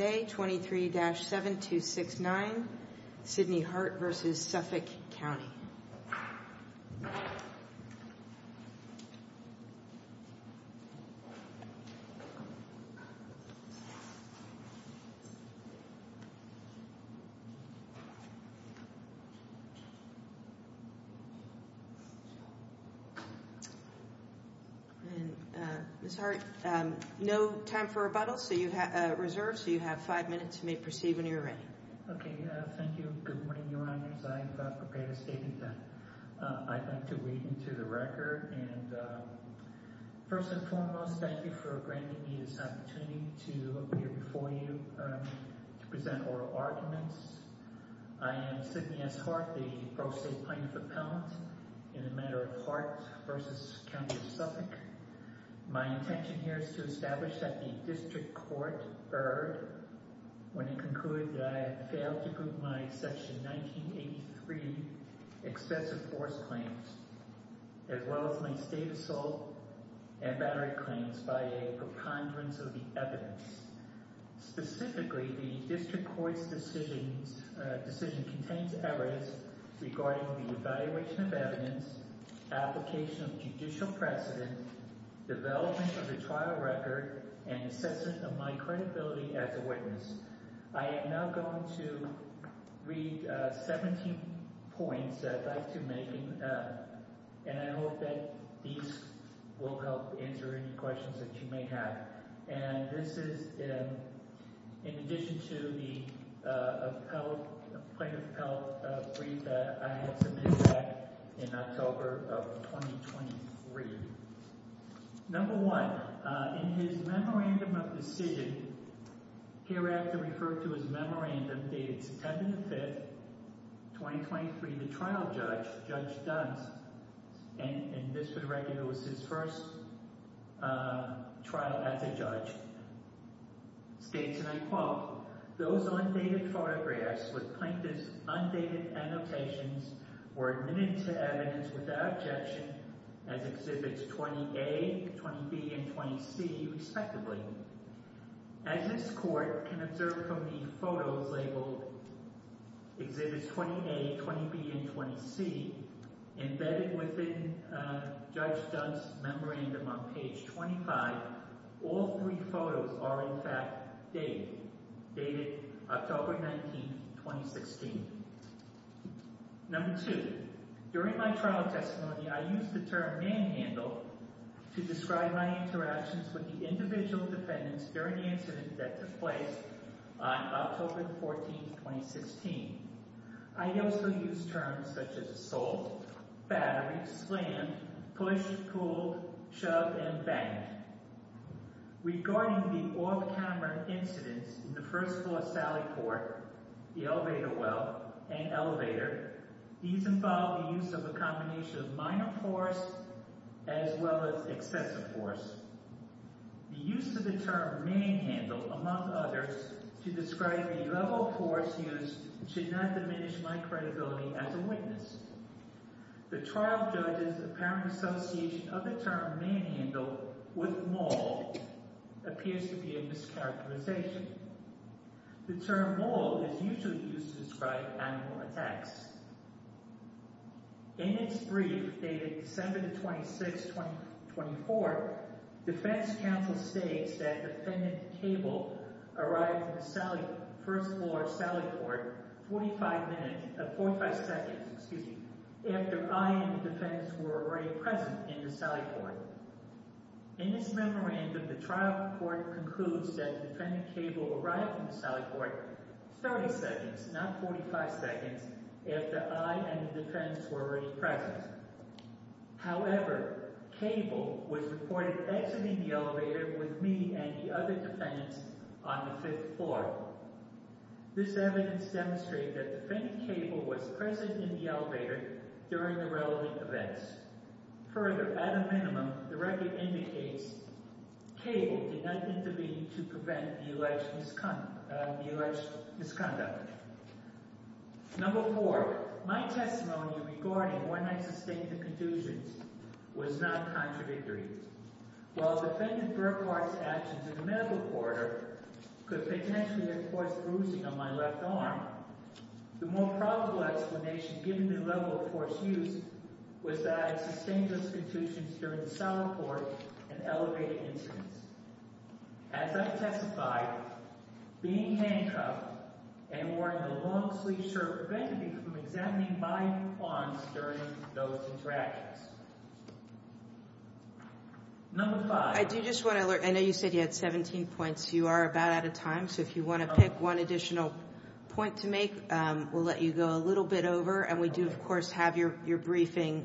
Today, 23-7269, Sidney Hart v. Suffolk County. Ms. Hart, no time for rebuttals, so you have five minutes and may proceed when you're ready. Okay, thank you. Good morning, Your Honors. I've prepared a statement that I'd like to read into the record. And first and foremost, thank you for granting me this opportunity to appear before you to present oral arguments. I am Sidney S. Hart, the Pro State Plaintiff Appellant in the matter of Hart v. County of Suffolk. My intention here is to establish that the District Court erred when it concluded that I had failed to prove my Section 1983 excessive force claims, as well as my state assault and battery claims by a preponderance of the evidence. Specifically, the District Court's decision contains evidence regarding the evaluation of evidence, application of judicial precedent, development of the trial record, and assessment of my credibility as a witness. I am now going to read 17 points that I'd like to make, and I hope that these will help answer any questions that you may have. And this is in addition to the plaintiff appellate brief that I had submitted back in October of 2023. Number one, in his memorandum of decision, hereafter referred to his memorandum dated September 5, 2023, the trial judge, Judge Duns, and this would recognize his first trial as a judge, states, and I quote, those undated photographs with plaintiff's undated annotations were admitted to evidence without objection as Exhibits 20A, 20B, and 20C, respectively. As this Court can observe from the photos labeled Exhibits 20A, 20B, and 20C, embedded within Judge Duns' memorandum on page 25, all three photos are in fact dated, dated October 19, 2016. Number two, during my trial testimony, I used the term manhandle to describe my interactions with the individual defendants during the incident that took place on October 14, 2016. I also used terms such as assault, battery, slam, push, pull, shove, and bang. Regarding the off-camera incidents in the First Floor Sally Court, the elevator well, and elevator, these involve the use of a combination of minor force as well as excessive force. The use of the term manhandle, among others, to describe the level of force used should not diminish my credibility as a witness. The trial judge's apparent association of the term manhandle with maul appears to be a mischaracterization. The term maul is usually used to describe animal attacks. In its brief, dated December 26, 2024, Defense Counsel states that Defendant Cable arrived in the First Floor Sally Court 45 seconds after I and the defendants were already present in the Sally Court. In this memorandum, the trial report concludes that Defendant Cable arrived in the Sally Court 30 seconds, not 45 seconds, after I and the defendants were already present. However, Cable was reported exiting the elevator with me and the other defendants on the Fifth Floor. This evidence demonstrated that Defendant Cable was present in the elevator during the relevant events. Further, at a minimum, the record indicates Cable did not intervene to prevent the alleged misconduct. Number four, my testimony regarding when I sustained the confusions was not contradictory. While Defendant Burkhardt's actions in the medical corridor could potentially have caused bruising on my left arm, the more probable explanation given the level of force used was that I sustained those confusions during the Sally Court and elevated incidents. As I testified, being handcuffed and wearing a long-sleeved shirt prevented me from examining my arms during those interactions. Number five, I do just want to alert, I know you said you had 17 points. You are about out of time, so if you want to pick one additional point to make, we'll let you go a little bit over. And we do, of course, have your briefing,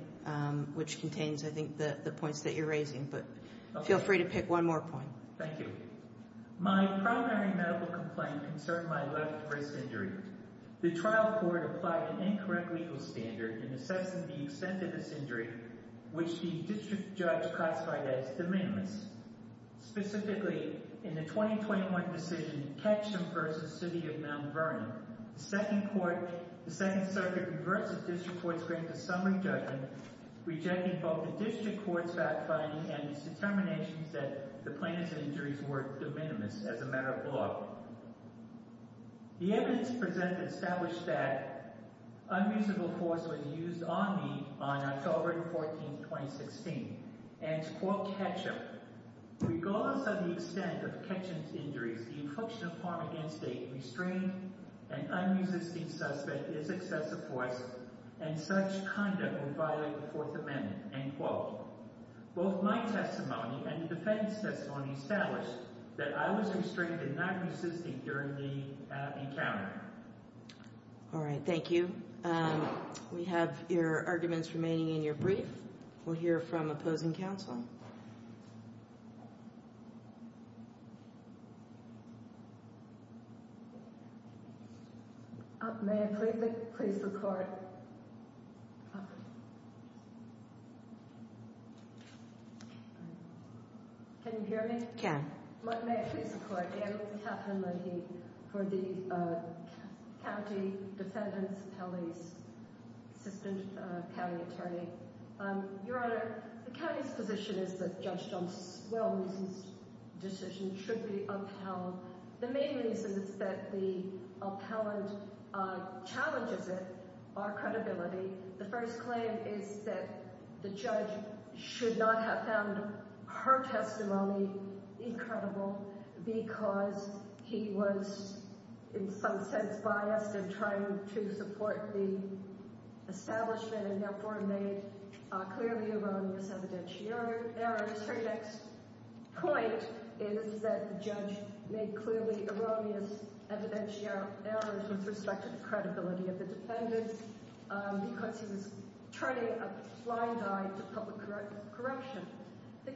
which contains, I think, the points that you're raising. But feel free to pick one more point. Thank you. My primary medical complaint concerned my left wrist injury. The trial court applied an incorrect legal standard in assessing the extent of this injury, which the district judge classified as de minimis. Specifically, in the 2021 decision, Ketcham v. City of Mount Vernon, the Second Circuit reversed the district court's grant of summary judgment, rejecting both the district court's fact-finding and its determination that the plaintiff's injuries were de minimis as a matter of law. The evidence presented established that unusable force was used on me on October 14, 2016. And to quote Ketcham, regardless of the extent of Ketcham's injuries, the infliction of harm against a restrained and unresisting suspect is excessive force, and such conduct would violate the Fourth Amendment. Both my testimony and the defense testimony established that I was restrained and not resisting during the encounter. All right. Thank you. We have your arguments remaining in your brief. We'll hear from opposing counsel. May I please look for it? Can you hear me? May I please report? I am Katharine Leahy for the County Defendant's Appellees, Assistant County Attorney. Your Honor, the county's position is that Judge Jones's well-meaning decision should be upheld. The main reason is that the appellant challenges it by credibility. The first claim is that the judge should not have found her testimony incredible because he was in some sense biased in trying to support the establishment and therefore made clearly erroneous evidentiary errors. Her next point is that the judge made clearly erroneous evidentiary errors with respect to the credibility of the defendant because he was turning a blind eye to public corruption. The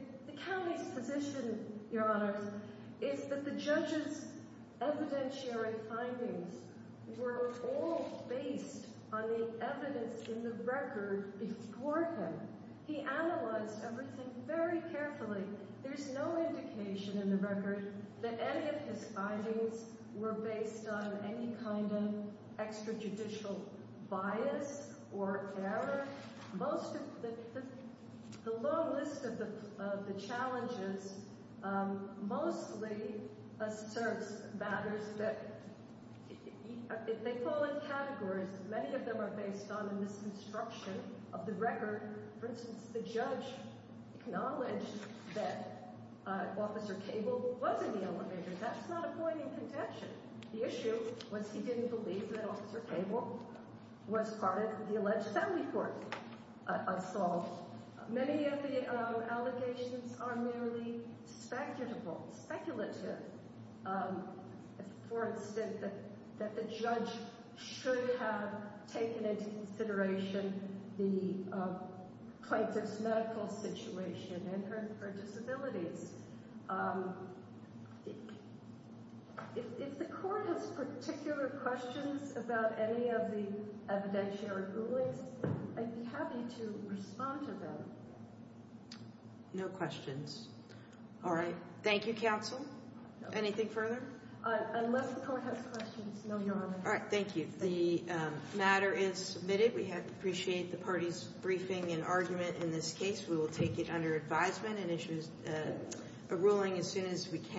county's position, Your Honor, is that the judge's evidentiary findings were all based on the evidence in the record before him. He analyzed everything very carefully. There's no indication in the record that any of his findings were based on any kind of extrajudicial bias or error. The long list of the challenges mostly asserts matters that, if they fall in categories, many of them are based on a misconstruction of the record. For instance, the judge acknowledged that Officer Cable was in the elevator. That's not a point in contention. The issue was he didn't believe that Officer Cable was part of the alleged family court assault. Many of the allegations are merely speculative. For instance, that the judge should have taken into consideration the plaintiff's medical situation and her disabilities. If the court has particular questions about any of the evidentiary rulings, I'd be happy to respond to them. No questions. All right. Thank you, counsel. Anything further? Unless the court has questions, no, Your Honor. All right. Thank you. The matter is submitted. We appreciate the party's briefing and argument in this case. We will take it under advisement and issue a ruling as soon as we can.